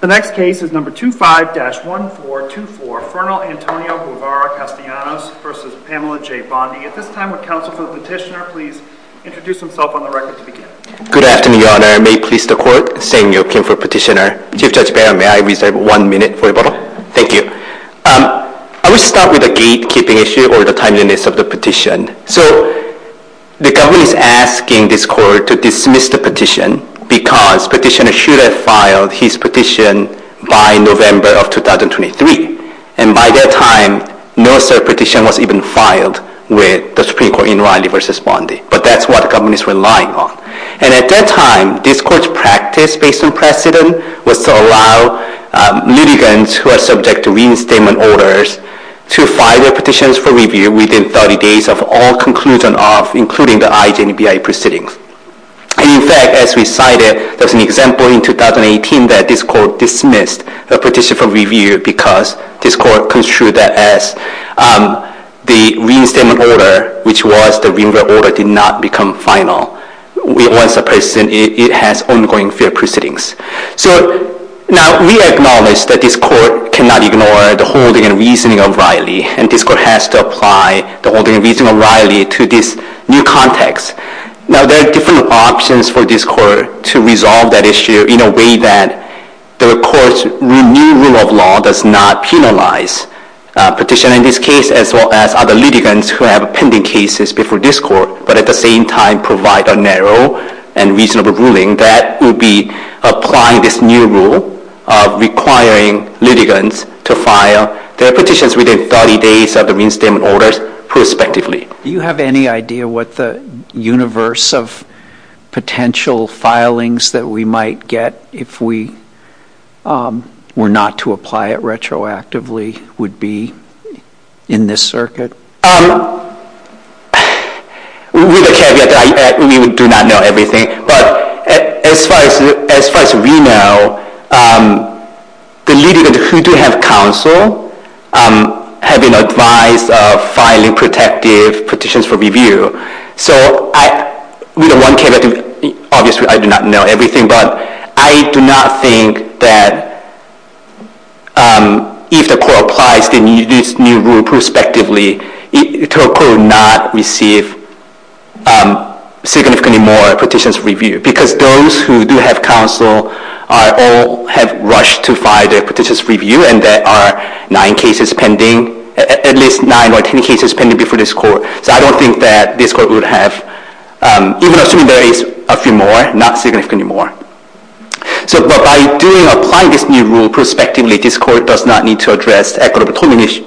The next case is number 25-1424, Fernal Antonio Guevara-Castellanos v. Pamela J. Bondi. At this time, would counsel for the petitioner please introduce himself on the record to begin. Good afternoon, Your Honor. May it please the Court, St. Joachim for Petitioner. Chief Judge Barron, may I reserve one minute for rebuttal? Thank you. I will start with the gatekeeping issue or the timeliness of the petition. So the government is asking this Court to dismiss the petition because petitioner should have filed his petition by November of 2023. And by that time, no such petition was even filed with the Supreme Court in Riley v. Bondi. But that's what the government is relying on. And at that time, this Court's practice based on precedent was to allow litigants who are subject to reinstatement orders to file their petitions for review within 30 days of all conclusion of including the IJNBI proceedings. And in fact, as we cited, there was an example in 2018 that this Court dismissed the petition for review because this Court construed that as the reinstatement order, which was the renewal order did not become final. Once a person, it has ongoing fair proceedings. So now, we acknowledge that this Court cannot ignore the holding and reasoning of Riley. And this Court has to apply the holding and reasoning of Riley to this new context. Now, there are different options for this Court to resolve that issue in a way that the Court's renewal of law does not penalize petitioner in this case as well as other litigants who have pending cases before this Court, but at the same time provide a narrow and reasonable ruling that will be applying this new rule of requiring litigants to file their petitions within 30 days of the reinstatement orders prospectively. Do you have any idea what the universe of potential filings that we might get if we were not to apply it retroactively would be in this circuit? With a caveat, we do not know everything. But as far as we know, the litigants who do have counsel have been advised of filing protective petitions for review. So with one caveat, obviously, I do not know everything, but I do not think that if the Court applies this new rule prospectively, the Court will not receive significantly more petitions reviewed. Because those who do have counsel all have rushed to file their petitions review, and there are nine cases pending, at least nine or ten cases pending before this Court. So I don't think that this Court would have, even assuming there is a few more, not significantly more. But by applying this new rule prospectively, this Court does not need to address equitable determination.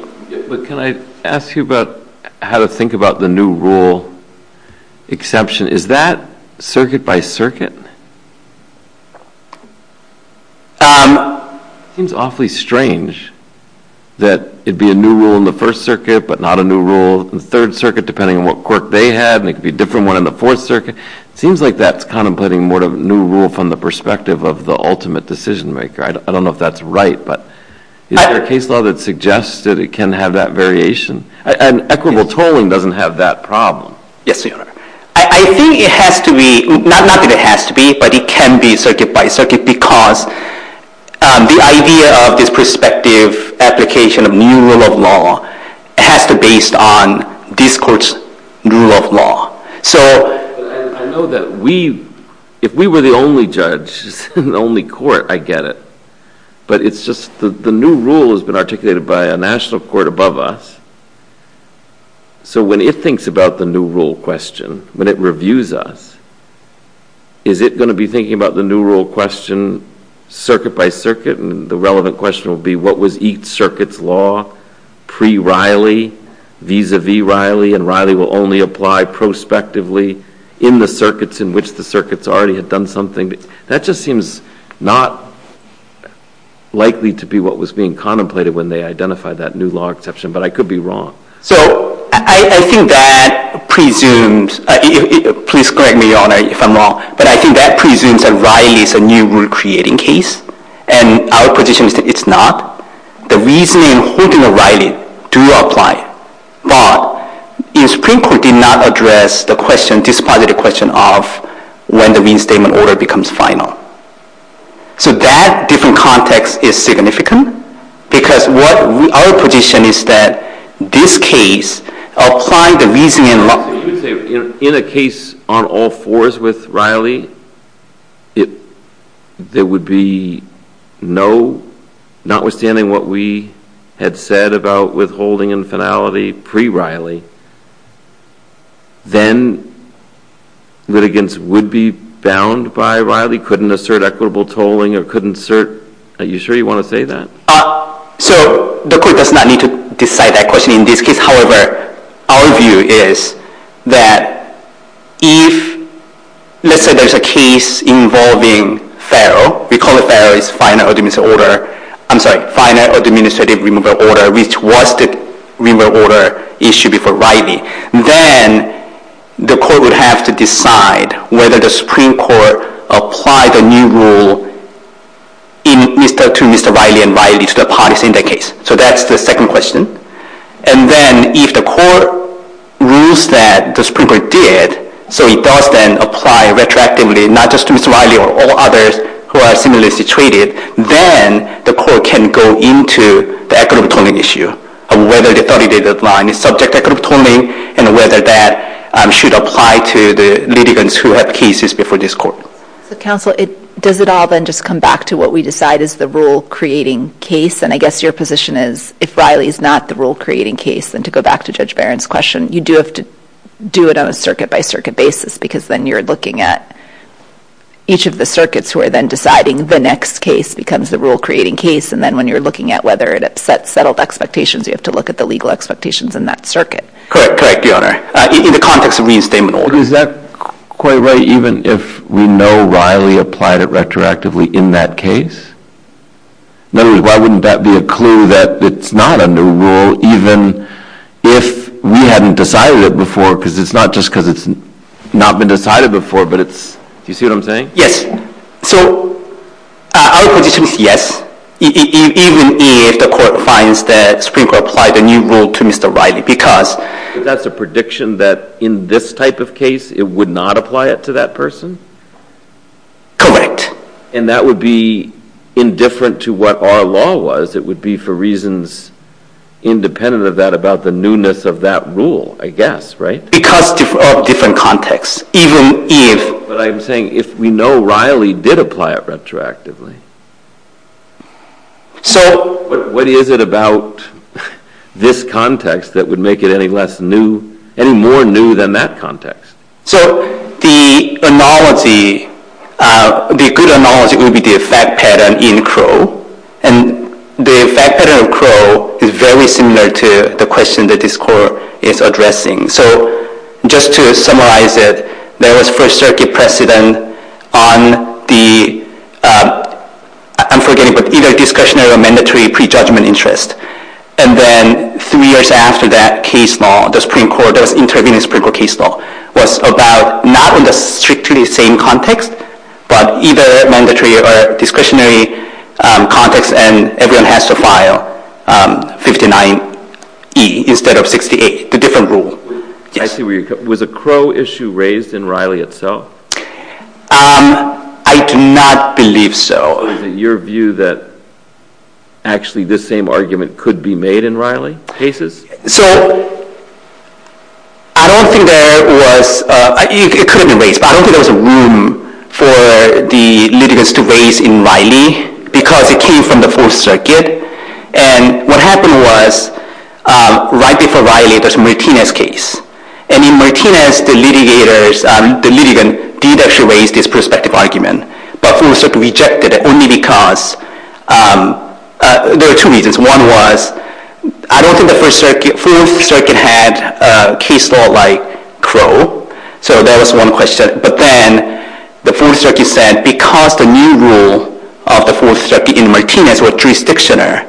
But can I ask you about how to think about the new rule exception? Is that circuit by circuit? It seems awfully strange that it would be a new rule in the First Circuit, but not a new rule in the Third Circuit, depending on what court they had, and it could be a different one in the Fourth Circuit. It seems like that is contemplating more of a new rule from the perspective of the ultimate decision maker. I don't know if that is right, but is there a case law that suggests that it can have that variation? And equitable tolling does not have that problem. Yes, Your Honor. I think it has to be, not that it has to be, but it can be circuit by circuit, because the idea of this prospective application of new rule of law has to be based on this Court's rule of law. I know that we, if we were the only judge, the only court, I get it. But it's just that the new rule has been articulated by a national court above us. So when it thinks about the new rule question, when it reviews us, is it going to be thinking about the new rule question circuit by circuit, and the relevant question will be what was each circuit's law pre-Riley, vis-a-vis Riley, and Riley will only apply prospectively in the circuits in which the circuits already had done something? That just seems not likely to be what was being contemplated when they identified that new law exception, but I could be wrong. So I think that presumes, please correct me, Your Honor, if I'm wrong, but I think that presumes that Riley is a new rule-creating case, and our position is that it's not. The reasoning in holding a Riley do apply, but the Supreme Court did not address the question, this positive question of when the Wien Statement order becomes final. So that different context is significant because our position is that this case, applying the reasoning in law. So you would say in a case on all fours with Riley, there would be no, notwithstanding what we had said about withholding in finality pre-Riley, then litigants would be bound by Riley, couldn't assert equitable tolling, or couldn't assert, are you sure you want to say that? So the court does not need to decide that question in this case. However, our view is that if, let's say there's a case involving Farrell, we call it Farrell's final administrative order, I'm sorry, final administrative removal order, which was the removal order issued before Riley, then the court would have to decide whether the Supreme Court apply the new rule to Mr. Riley and Riley to the parties in that case. So that's the second question. And then if the court rules that the Supreme Court did, so it does then apply retroactively, not just to Mr. Riley or all others who are similarly situated, then the court can go into the equitable tolling issue of whether the 30-day deadline is subject to equitable tolling and whether that should apply to the litigants who have cases before this court. Counsel, does it all then just come back to what we decide is the rule-creating case? And I guess your position is if Riley is not the rule-creating case, then to go back to Judge Barron's question, you do have to do it on a circuit-by-circuit basis because then you're looking at each of the circuits who are then deciding the next case becomes the rule-creating case, and then when you're looking at whether it upsets settled expectations, you have to look at the legal expectations in that circuit. Correct, correct, Your Honor. In the context of the reinstatement order. Is that quite right even if we know Riley applied it retroactively in that case? In other words, why wouldn't that be a clue that it's not under rule even if we hadn't decided it before because it's not just because it's not been decided before, but it's... Do you see what I'm saying? Yes. So, our position is yes, even if the court finds that the Supreme Court applied a new rule to Mr. Riley because... That's a prediction that in this type of case it would not apply it to that person? Correct. And that would be indifferent to what our law was. It would be for reasons independent of that about the newness of that rule, I guess, right? Because of different contexts, even if... But I'm saying if we know Riley did apply it retroactively, what is it about this context that would make it any more new than that context? So, the analogy, the good analogy would be the effect pattern in Crow. And the effect pattern of Crow is very similar to the question that this court is addressing. So, just to summarize it, there was First Circuit precedent on the... I'm forgetting, but either discretionary or mandatory prejudgment interest. And then three years after that case law, the Supreme Court, there was intervening Supreme Court case law, was about not in the strictly same context, but either mandatory or discretionary context, and everyone has to file 59E instead of 68, the different rule. I see where you're coming... Was a Crow issue raised in Riley itself? I do not believe so. Is it your view that actually this same argument could be made in Riley cases? So, I don't think there was... It could have been raised, but I don't think there was a room for the litigants to raise in Riley, because it came from the Fourth Circuit. And what happened was, right before Riley, there was a Martinez case. And in Martinez, the litigants did actually raise this prospective argument, but Fourth Circuit rejected it, only because... There were two reasons. One was, I don't think the Fourth Circuit had a case law like Crow. So, that was one question. But then, the Fourth Circuit said, because the new rule of the Fourth Circuit in Martinez was jurisdictional,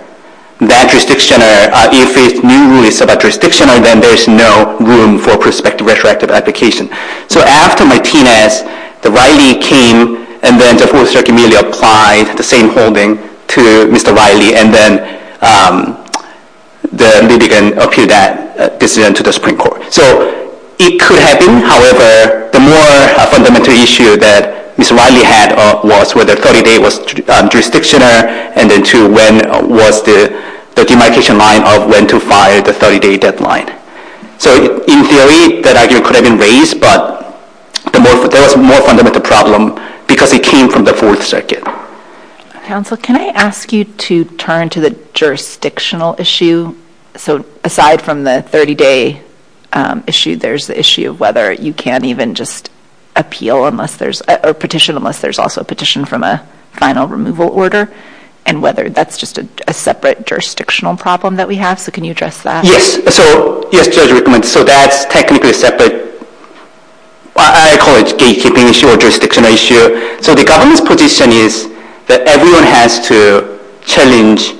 that jurisdictional, if its new rule is about jurisdictional, then there's no room for prospective retroactive application. So, after Martinez, Riley came, and then the Fourth Circuit immediately applied the same holding to Mr. Riley, and then the litigant appealed that decision to the Supreme Court. So, it could happen. However, the more fundamental issue that Mr. Riley had was whether 30-day was jurisdictional, and then two, when was the demarcation line of when to file the 30-day deadline. So, in theory, that argument could have been raised, but there was a more fundamental problem because it came from the Fourth Circuit. Counsel, can I ask you to turn to the jurisdictional issue? So, aside from the 30-day issue, there's the issue of whether you can't even just appeal unless there's a petition, unless there's also a petition from a final removal order, and whether that's just a separate jurisdictional problem that we have. So, can you address that? Yes. So, yes, Judge Rickman. So, that's technically separate. I call it gatekeeping issue or jurisdictional issue. So, the government's position is that everyone has to challenge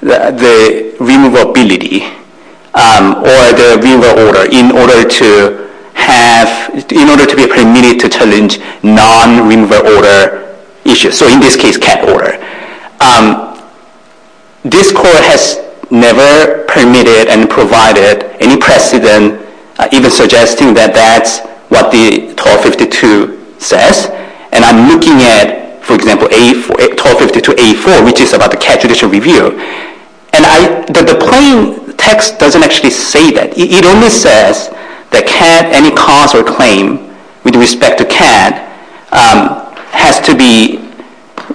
the removal ability or the removal order in order to be permitted to challenge non-removal order issues. So, in this case, cat order. This court has never permitted and provided any precedent, even suggesting that that's what the 1252 says. And I'm looking at, for example, 1252A4, which is about the cat judicial review. And the plain text doesn't actually say that. It only says that cat, any cause or claim with respect to cat, has to be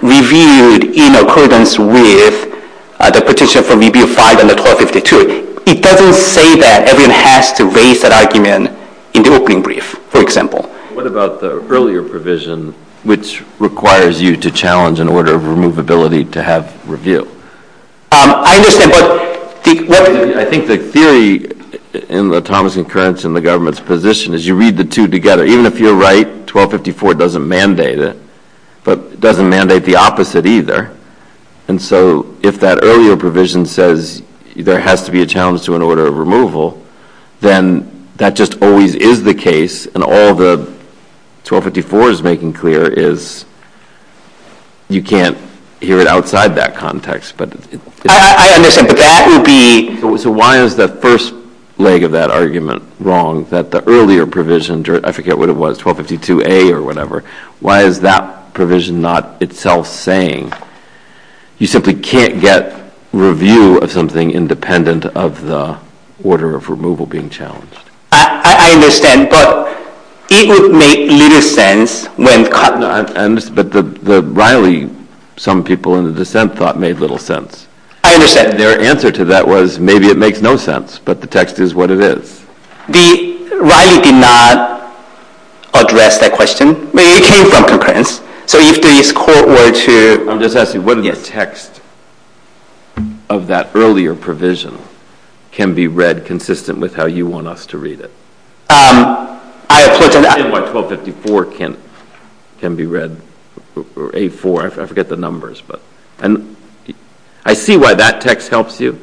reviewed in accordance with the petition from Review 5 and the 1252. It doesn't say that everyone has to raise that argument in the opening brief, for example. What about the earlier provision, which requires you to challenge an order of removability to have review? I understand, but... I think the theory in the Thomas and Curran's and the government's position is you read the two together. Even if you're right, 1254 doesn't mandate it. But it doesn't mandate the opposite either. And so, if that earlier provision says there has to be a challenge to an order of removal, then that just always is the case, and all that 1254 is making clear is you can't hear it outside that context. I understand, but that would be... So why is the first leg of that argument wrong, that the earlier provision, I forget what it was, 1252A or whatever, why is that provision not itself saying you simply can't get review of something independent of the order of removal? I understand, but it would make little sense when... But Riley, some people in the dissent thought made little sense. I understand. Their answer to that was maybe it makes no sense, but the text is what it is. Riley did not address that question. It came from Curran's. I'm just asking, what text of that earlier provision can be read consistent with how you want us to read it? I understand why 1254 can be read, or A4, I forget the numbers. I see why that text helps you,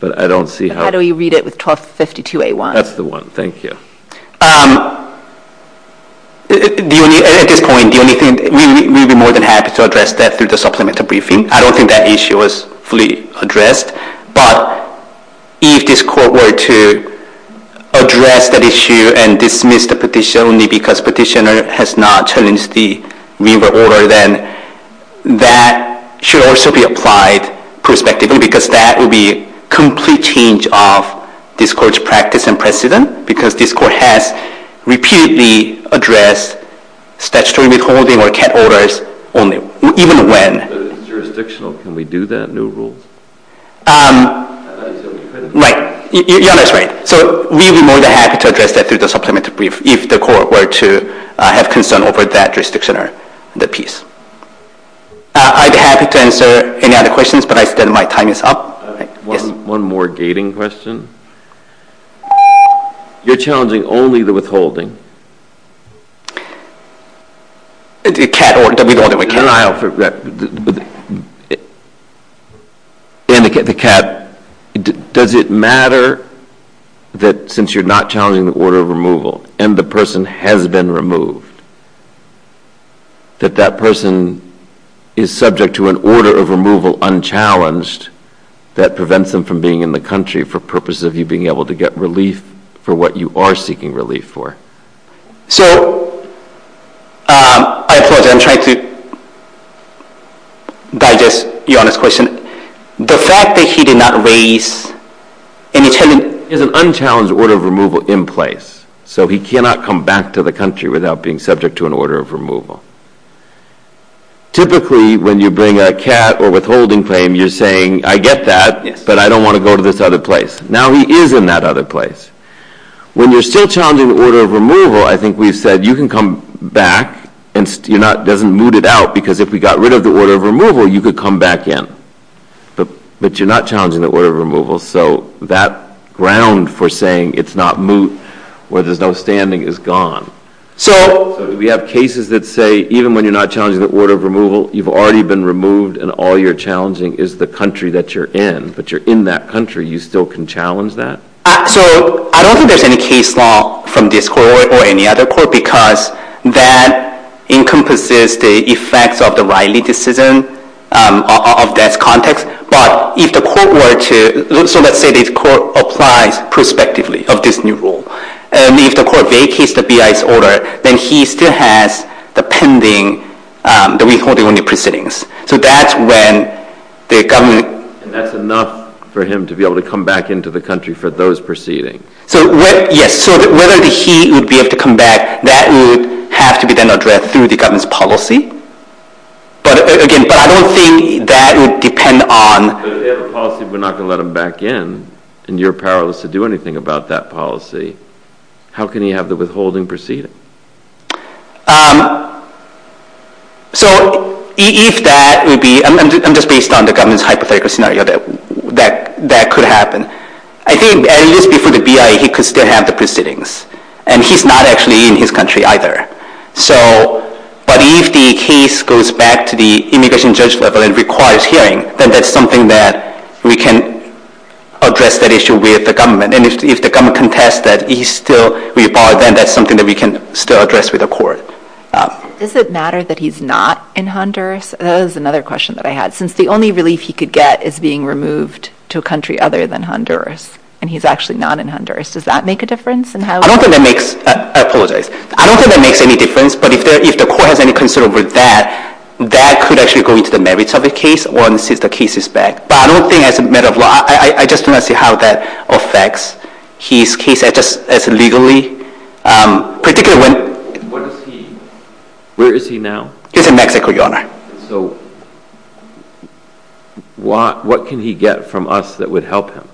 but I don't see how... How do we read it with 1252A1? That's the one, thank you. At this point, the only thing, we'd be more than happy to address that through the supplemental briefing. I don't think that issue was fully addressed, but if this court were to address that issue and dismiss the petition only because petitioner has not challenged the removal order, then that should also be applied prospectively because that would be complete change of this court's practice and precedent because this court has repeatedly addressed statutory withholding or cat orders only, even when... But it's jurisdictional, can we do that, new rules? Right, you're almost right. We'd be more than happy to address that through the supplemental brief if the court were to have concern over that jurisdiction or that piece. I'd be happy to answer any other questions, but my time is up. One more gating question. You're challenging only the withholding. Cat order, we don't have a cat order. And the cat, does it matter that since you're not challenging the order of removal and the person has been removed, that that person is subject to an order of removal unchallenged that prevents them from being in the country for purposes of you being able to get relief for what you are seeking relief for? So, I apologize, I'm trying to digest your honest question. The fact that he did not raise an unchallenged order of removal in place, so he cannot come back to the country without being subject to an order of removal. Typically, when you bring a cat or withholding claim, you're saying, I get that, but I don't want to go to this other place. Now he is in that other place. When you're still challenging the order of removal, I think we've said you can come back and it doesn't moot it out because if we got rid of the order of removal, you could come back in. But you're not challenging the order of removal, so that ground for saying it's not moot, where there's no standing, is gone. So, we have cases that say even when you're not challenging the order of removal, you've already been removed and all you're challenging is the country that you're in. But you're in that country, you still can challenge that? So, I don't think there's any case law from this court or any other court because that encompasses the effects of the Riley decision of that context. But if the court were to, so let's say this court applies prospectively of this new rule, and if the court vacates the BI's order, then he still has the pending, the withholding only proceedings. So, that's when the government... And that's enough for him to be able to come back into the country for those proceedings. Yes, so whether he would be able to come back, that would have to be then addressed through the government's policy. But again, I don't think that would depend on... But if they have a policy we're not going to let him back in, and you're powerless to do anything about that policy, how can he have the withholding proceeding? So, if that would be... I'm just based on the government's hypothetical scenario that that could happen. I think at least before the BI, he could still have the proceedings. And he's not actually in his country either. So, but if the case goes back to the immigration judge level and requires hearing, then that's something that we can address that issue with the government. And if the government contests that he's still with BI, then that's something that we can still address with the court. Does it matter that he's not in Honduras? That was another question that I had. Since the only relief he could get is being removed to a country other than Honduras, and he's actually not in Honduras, does that make a difference in how... I don't think that makes... I apologize. I don't think that makes any difference, but if the court has any concern over that, that could actually go into the merits of the case once the case is back. But I don't think as a matter of law, I just do not see how that affects his case as legally, particularly when... Where is he now? He's in Mexico, Your Honor. So, what can he get from us that would help him?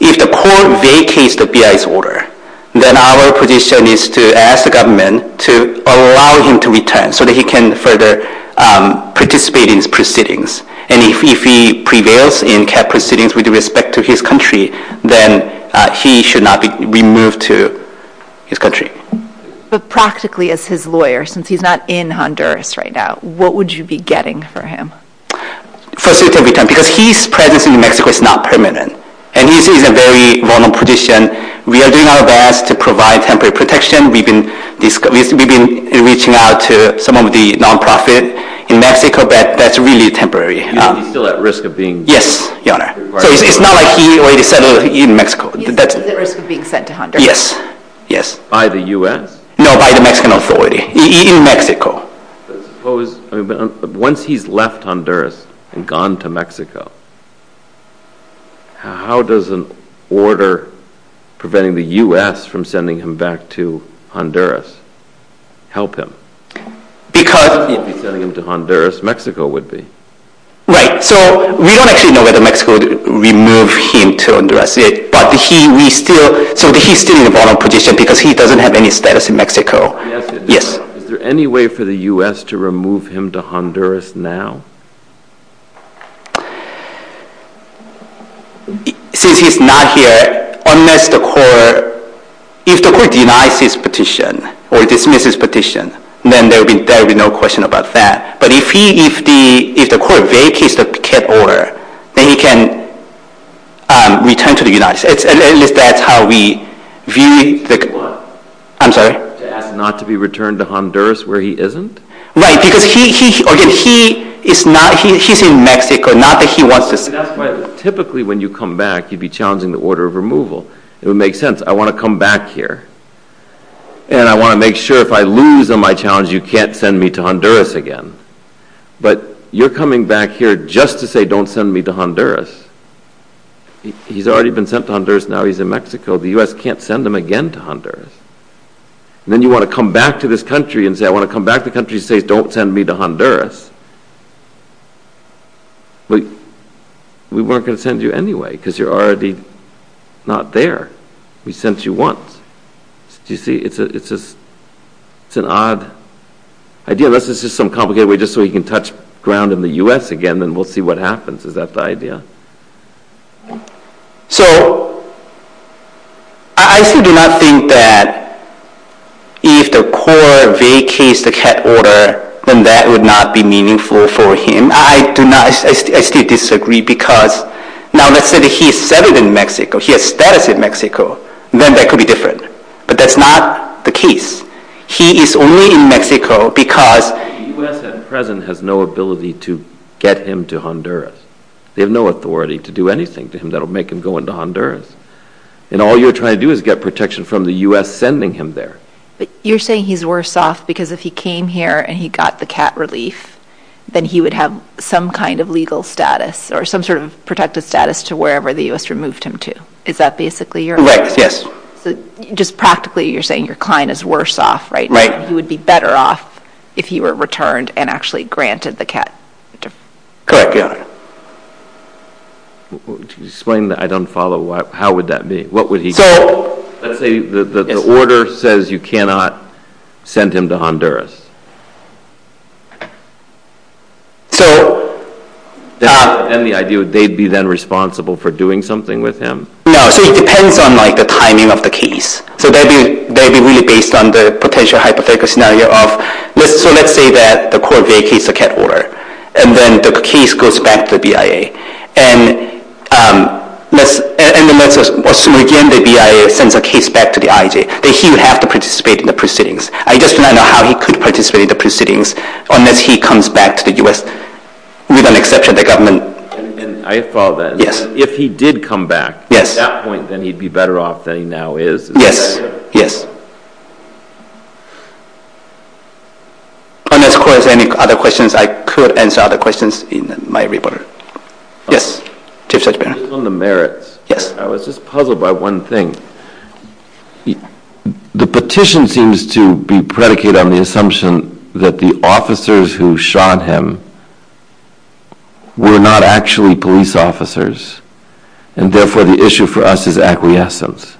If the court vacates the BI's order, then our position is to ask the government to allow him to return so that he can further participate in his proceedings. And if he prevails in CAP proceedings with respect to his country, then he should not be removed to his country. But practically, as his lawyer, since he's not in Honduras right now, what would you be getting for him? First, because his presence in Mexico is not permanent. And he's in a very vulnerable position. We are doing our best to provide temporary protection. We've been reaching out to some of the non-profits in Mexico, but that's really temporary. He's still at risk of being... Yes, Your Honor. So it's not like he already settled in Mexico. He's at risk of being sent to Honduras. Yes. By the U.S.? No, by the Mexican authority in Mexico. Once he's left Honduras and gone to Mexico, how does an order preventing the U.S. from sending him back to Honduras help him? Because... If he's sending him to Honduras, Mexico would be. Right. So we don't actually know whether Mexico would remove him to Honduras yet, but he's still in a vulnerable position because he doesn't have any status in Mexico. Yes. Is there any way for the U.S. to remove him to Honduras now? Since he's not here, unless the court... If the court denies his petition or dismisses his petition, then there will be no question about that. But if the court vacates the cat order, then he can return to the United States. At least that's how we view... I'm sorry? To ask not to be returned to Honduras where he isn't? Right. Because he's in Mexico, not that he wants to... Typically when you come back, you'd be challenging the order of removal. It would make sense. I want to come back here, and I want to make sure if I lose on my challenge, you can't send me to Honduras again. But you're coming back here just to say, don't send me to Honduras. He's already been sent to Honduras, now he's in Mexico. The U.S. can't send him again to Honduras. Then you want to come back to this country and say, I want to come back to the country and say, don't send me to Honduras. We weren't going to send you anyway because you're already not there. We sent you once. Do you see? It's an odd idea. Unless it's just some complicated way just so he can touch ground in the U.S. again, then we'll see what happens. Is that the idea? So I still do not think that if the court vacates the CAT order, then that would not be meaningful for him. I still disagree because now let's say he's settled in Mexico, he has status in Mexico, then that could be different. But that's not the case. He is only in Mexico because the U.S. at present has no ability to get him to Honduras. They have no authority to do anything to him that will make him go into Honduras. And all you're trying to do is get protection from the U.S. sending him there. But you're saying he's worse off because if he came here and he got the CAT relief, then he would have some kind of legal status or some sort of protected status to wherever the U.S. removed him to. Is that basically your argument? Yes. So just practically you're saying your client is worse off, right? He would be better off if he were returned and actually granted the CAT. Correct, Your Honor. Explain the I don't follow. How would that be? What would he do? Let's say the order says you cannot send him to Honduras. Then the idea would they be then responsible for doing something with him? No. So it depends on the timing of the case. So that would be really based on the potential hypothetical scenario. So let's say that the court vacates the CAT order, and then the case goes back to the BIA. And then let's assume again the BIA sends a case back to the IJ, that he would have to participate in the proceedings. I just don't know how he could participate in the proceedings unless he comes back to the U.S. with an exception of the government. I follow that. Yes. If he did come back at that point, then he'd be better off than he now is. Yes. Yes. Unless, of course, there are any other questions, I could answer other questions in my report. Yes. Chief Judge Barron. Based on the merits, I was just puzzled by one thing. The petition seems to be predicated on the assumption that the officers who shot him were not actually police officers, and therefore the issue for us is acquiescence.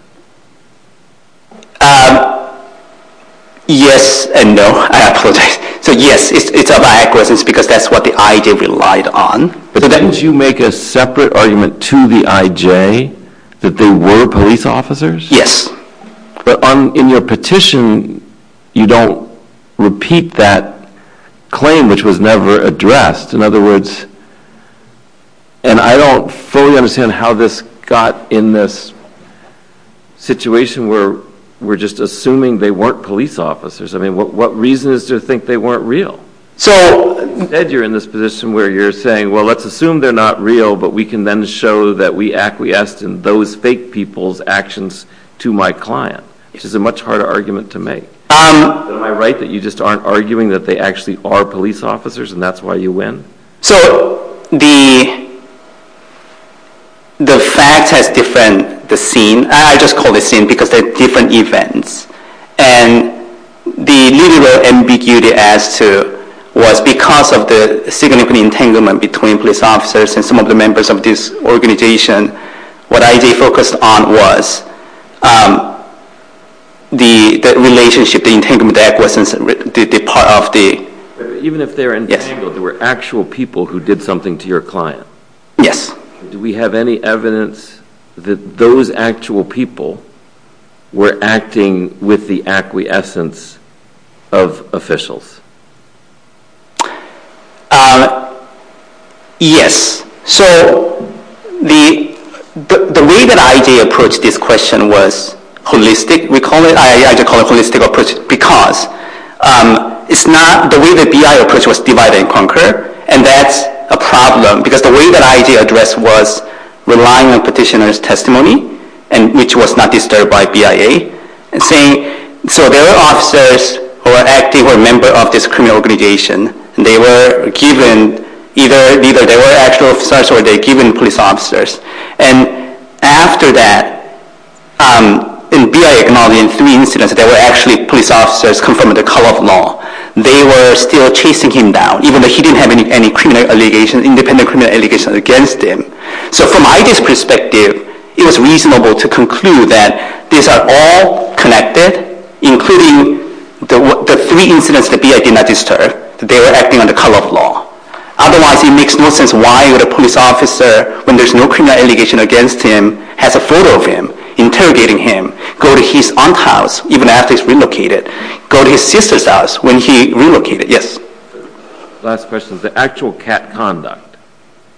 Yes and no. I apologize. So yes, it's about acquiescence because that's what the IJ relied on. But didn't you make a separate argument to the IJ that they were police officers? Yes. But in your petition, you don't repeat that claim, which was never addressed. In other words, and I don't fully understand how this got in this situation where we're just assuming they weren't police officers. I mean, what reason is there to think they weren't real? So instead you're in this position where you're saying, well, let's assume they're not real, but we can then show that we acquiesced in those fake people's actions to my client, which is a much harder argument to make. Am I right that you just aren't arguing that they actually are police officers and that's why you win? So the fact has different scenes. I just call it a scene because they're different events. And the literal ambiguity was because of the significant entanglement between police officers and some of the members of this organization. What IJ focused on was the relationship, the entanglement, the part of the… Even if they're entangled, there were actual people who did something to your client. Yes. Do we have any evidence that those actual people were acting with the acquiescence of officials? Yes. So the way that IJ approached this question was holistic. We call it IJ holistic approach because it's not the way that BI approach was divided and conquered, and that's a problem because the way that IJ addressed was relying on petitioner's testimony, which was not disturbed by BIA. So there were officers who were active or a member of this criminal organization, and they were given… Either they were actual officers or they were given police officers. And after that, BIA acknowledged in three incidents that there were actually police officers confirming the color of law. They were still chasing him down, even though he didn't have any independent criminal allegations against him. So from IJ's perspective, it was reasonable to conclude that these are all connected, including the three incidents that BIA did not disturb. They were acting on the color of law. Otherwise, it makes no sense why would a police officer, when there's no criminal allegation against him, has a photo of him interrogating him, go to his aunt's house, even after he's relocated, go to his sister's house when he relocated. Yes. Last question. The actual cat conduct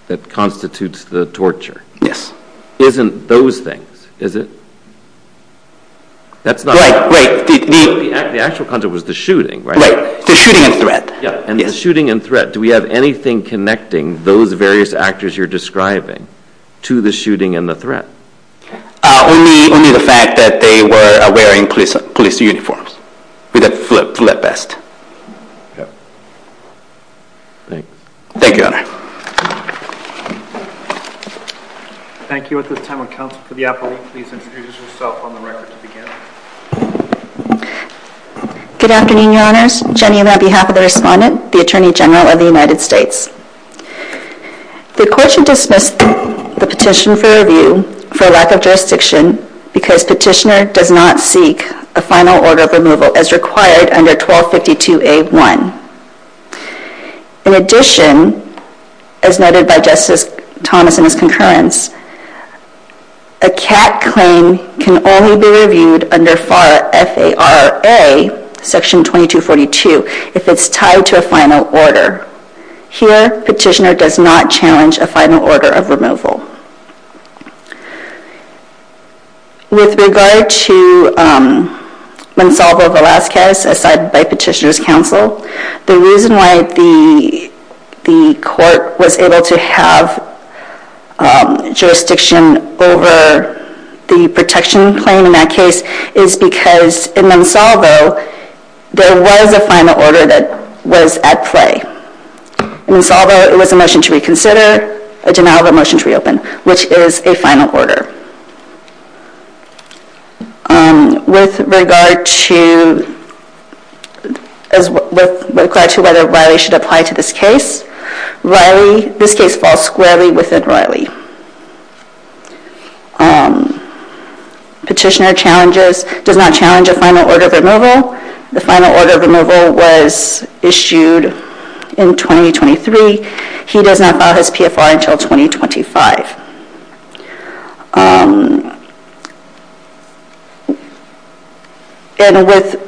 that constitutes the torture… Yes. …isn't those things, is it? That's not… Right, right. The actual conduct was the shooting, right? Right, the shooting and threat. And the shooting and threat, do we have anything connecting those various actors you're describing to the shooting and the threat? Only the fact that they were wearing police uniforms. We did flip vest. Okay. Thanks. Thank you, Your Honor. Thank you. At this time, would counsel for the appellate please introduce herself on the record to begin? Good afternoon, Your Honors. Jenny, on behalf of the respondent, the Attorney General of the United States. The court should dismiss the petition for review for lack of jurisdiction because petitioner does not seek a final order of removal as required under 1252A1. In addition, as noted by Justice Thomas in his concurrence, a CAT claim can only be reviewed under FAR FARA Section 2242 if it's tied to a final order. Here, petitioner does not challenge a final order of removal. With regard to Mansolvo Velasquez, as cited by petitioner's counsel, the reason why the court was able to have jurisdiction over the protection claim in that case is because in Mansolvo, there was a final order that was at play. In Mansolvo, it was a motion to reconsider, a denial of a motion to reopen, which is a final order. With regard to whether Riley should apply to this case, this case falls squarely within Riley. Petitioner does not challenge a final order of removal. The final order of removal was issued in 2023. He does not file his PFR until 2025. And with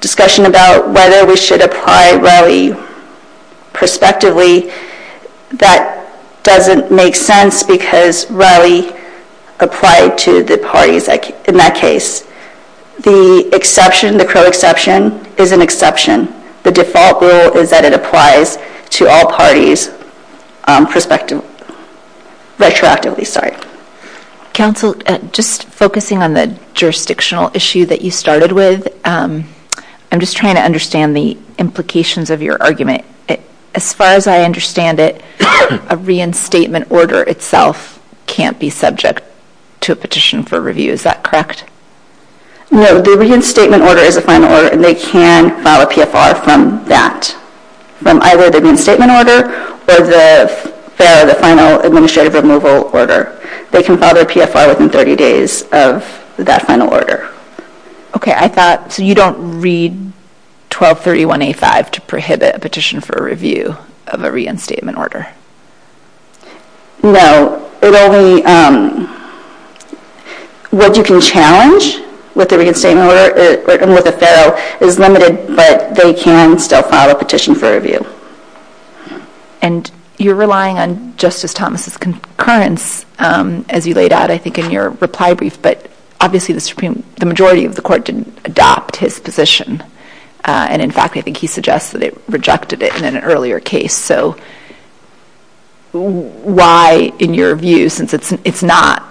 discussion about whether we should apply Riley prospectively, that doesn't make sense because Riley applied to the parties in that case. The exception, the crow exception, is an exception. The default rule is that it applies to all parties prospectively. Retroactively, sorry. Counsel, just focusing on the jurisdictional issue that you started with, I'm just trying to understand the implications of your argument. As far as I understand it, a reinstatement order itself can't be subject to a petition for review. Is that correct? No, the reinstatement order is a final order, and they can file a PFR from that, from either the reinstatement order or the FARO, the final administrative removal order. They can file their PFR within 30 days of that final order. Okay, I thought, so you don't read 1231A5 to prohibit a petition for review of a reinstatement order? No, it only, what you can challenge with the reinstatement order, or with the FARO, is limited, but they can still file a petition for review. And you're relying on Justice Thomas' concurrence as you laid out, I think, in your reply brief, but obviously the majority of the Court didn't adopt his position, and in fact I think he suggests that they rejected it in an earlier case. So why, in your view, since it's not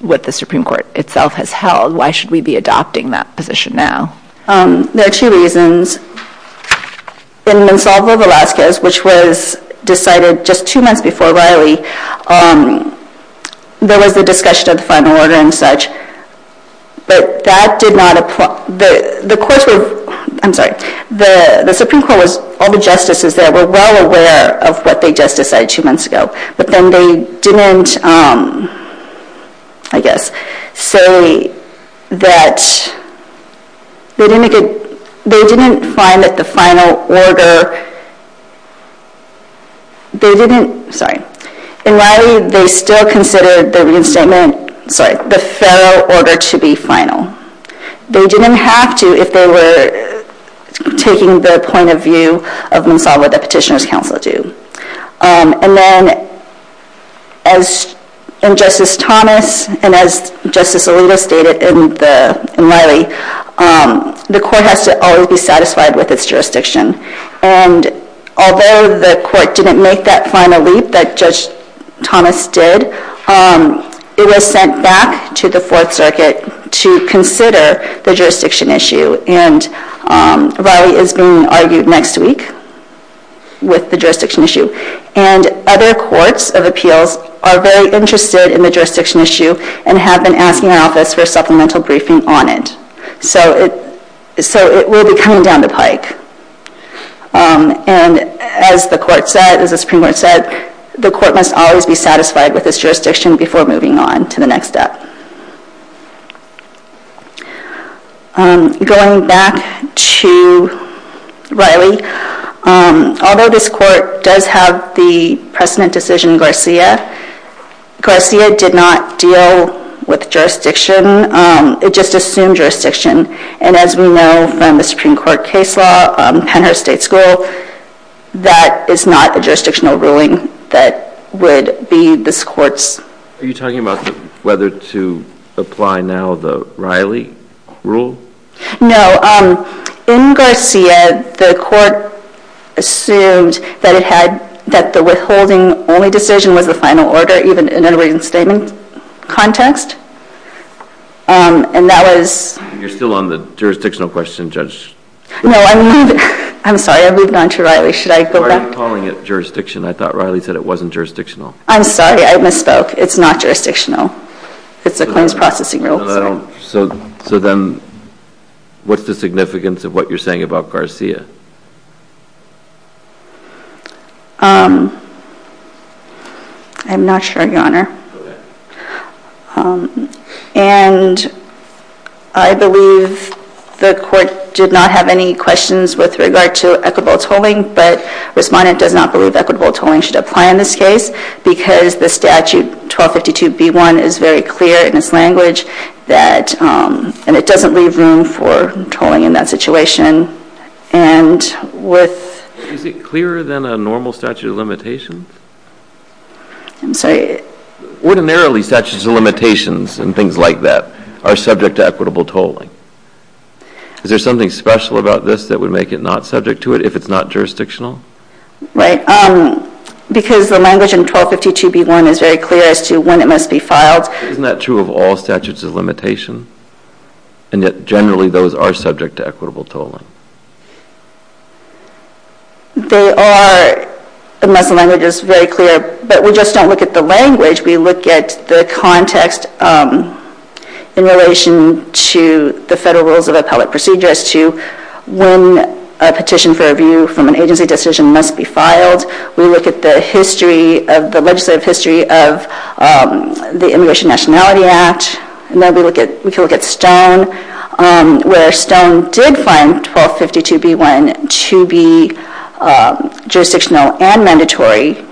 what the Supreme Court itself has held, why should we be adopting that position now? There are two reasons. In Monsalvo v. Velazquez, which was decided just two months before Riley, there was the discussion of the final order and such, but that did not apply. The Supreme Court was, all the justices there were well aware of what they just decided two months ago, but then they didn't, I guess, say that, they didn't find that the final order, they didn't, sorry, in Riley they still considered the reinstatement, sorry, the FARO order to be final. They didn't have to if they were taking the point of view of Monsalvo that petitioners counsel do. And then, as Justice Thomas and as Justice Alito stated in Riley, the Court has to always be satisfied with its jurisdiction. And although the Court didn't make that final leap that Judge Thomas did, it was sent back to the Fourth Circuit to consider the jurisdiction issue. And Riley is being argued next week with the jurisdiction issue. And other courts of appeals are very interested in the jurisdiction issue and have been asking our office for supplemental briefing on it. So it will be coming down the pike. And as the Court said, as the Supreme Court said, the Court must always be satisfied with its jurisdiction before moving on to the next step. Going back to Riley, although this Court does have the precedent decision Garcia, Garcia did not deal with jurisdiction, it just assumed jurisdiction. And as we know from the Supreme Court case law, Pennhurst State School, that is not a jurisdictional ruling that would be this Court's. Are you talking about whether to apply now the Riley rule? No. In Garcia, the Court assumed that the withholding only decision was the final order, even in a reinstatement context. And that was... You're still on the jurisdictional question, Judge. No, I'm sorry. I moved on to Riley. Should I go back? Why are you calling it jurisdiction? I thought Riley said it wasn't jurisdictional. I'm sorry. I misspoke. It's not jurisdictional. It's a claims processing rule. So then what's the significance of what you're saying about Garcia? I'm not sure, Your Honor. And I believe the Court did not have any questions with regard to equitable tolling, but Respondent does not believe equitable tolling should apply in this case because the statute 1252B1 is very clear in its language that, and it doesn't leave room for tolling in that situation. And with... Is it clearer than a normal statute of limitations? I'm sorry. Ordinarily, statutes of limitations and things like that are subject to equitable tolling. Is there something special about this that would make it not subject to it if it's not jurisdictional? Right. Because the language in 1252B1 is very clear as to when it must be filed. Isn't that true of all statutes of limitations? And yet, generally, those are subject to equitable tolling. They are, unless the language is very clear. But we just don't look at the language. We look at the context in relation to the federal rules of appellate procedure as to when a petition for review from an agency decision must be filed. We look at the legislative history of the Immigration Nationality Act. And then we can look at Stone, where Stone did find 1252B1 to be jurisdictional and mandatory.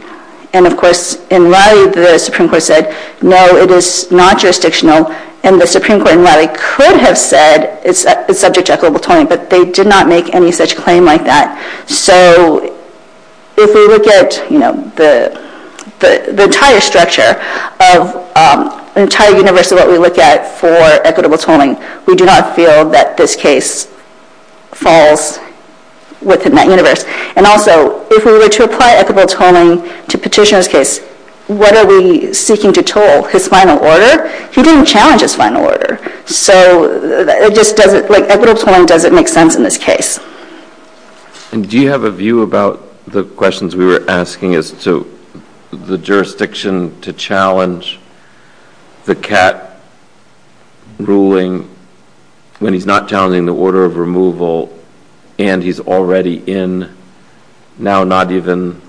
And, of course, in Raleigh, the Supreme Court said, no, it is not jurisdictional. And the Supreme Court in Raleigh could have said it's subject to equitable tolling, but they did not make any such claim like that. So if we look at the entire structure of the entire universe of what we look at for equitable tolling, we do not feel that this case falls within that universe. And also, if we were to apply equitable tolling to Petitioner's case, what are we seeking to toll? His final order? He didn't challenge his final order. So equitable tolling doesn't make sense in this case. And do you have a view about the questions we were asking as to the jurisdiction to challenge the CAT ruling when he's not challenging the order of removal and he's already in now not even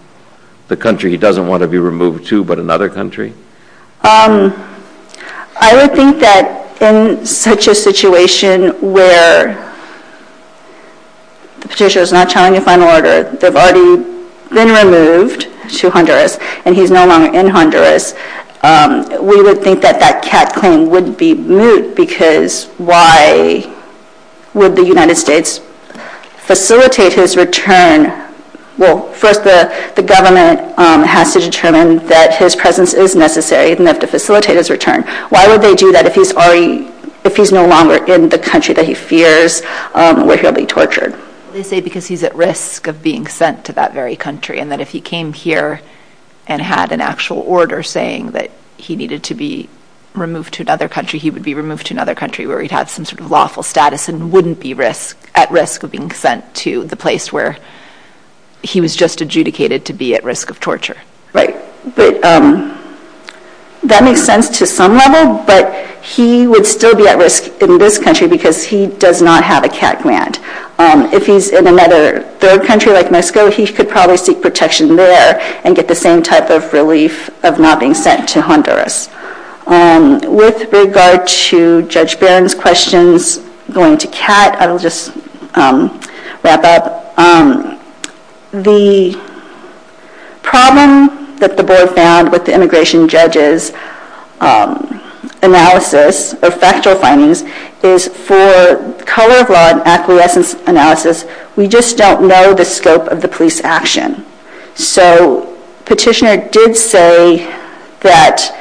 the country he doesn't want to be removed to but another country? I would think that in such a situation where Petitioner is not challenging the final order, they've already been removed to Honduras, and he's no longer in Honduras, we would think that that CAT claim would be moot because why would the United States facilitate his return? Well, first, the government has to determine that his presence is necessary enough to facilitate his return. Why would they do that if he's no longer in the country that he fears where he'll be tortured? They say because he's at risk of being sent to that very country and that if he came here and had an actual order saying that he needed to be removed to another country, he would be removed to another country where he'd have some sort of lawful status and wouldn't be at risk of being sent to the place where he was just adjudicated to be at risk of torture. Right. But that makes sense to some level, but he would still be at risk in this country because he does not have a CAT grant. If he's in another third country like Mexico, he could probably seek protection there and get the same type of relief of not being sent to Honduras. With regard to Judge Barron's questions going to CAT, I will just wrap up. The problem that the board found with the immigration judge's analysis or factual findings is for color of law and acquiescence analysis, we just don't know the scope of the police action. So Petitioner did say that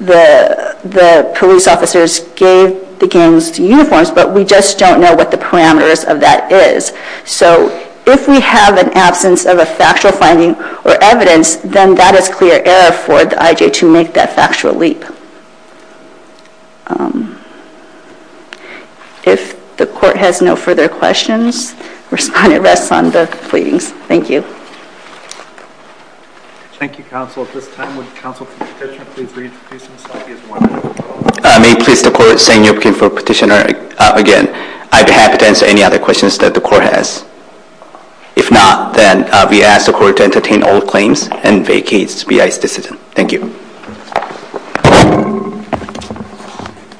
the police officers gave the gangs uniforms, but we just don't know what the parameters of that is. So if we have an absence of a factual finding or evidence, then that is clear error for the IJ to make that factual leap. If the court has no further questions, respondent rests on the pleadings. Thank you. Thank you, counsel. At this time, would counsel from Petitioner please reintroduce himself. May it please the court, St. Joaquin for Petitioner. Again, I'd be happy to answer any other questions that the court has. If not, then we ask the court to entertain all claims and vacate B.I.'s decision. Thank you.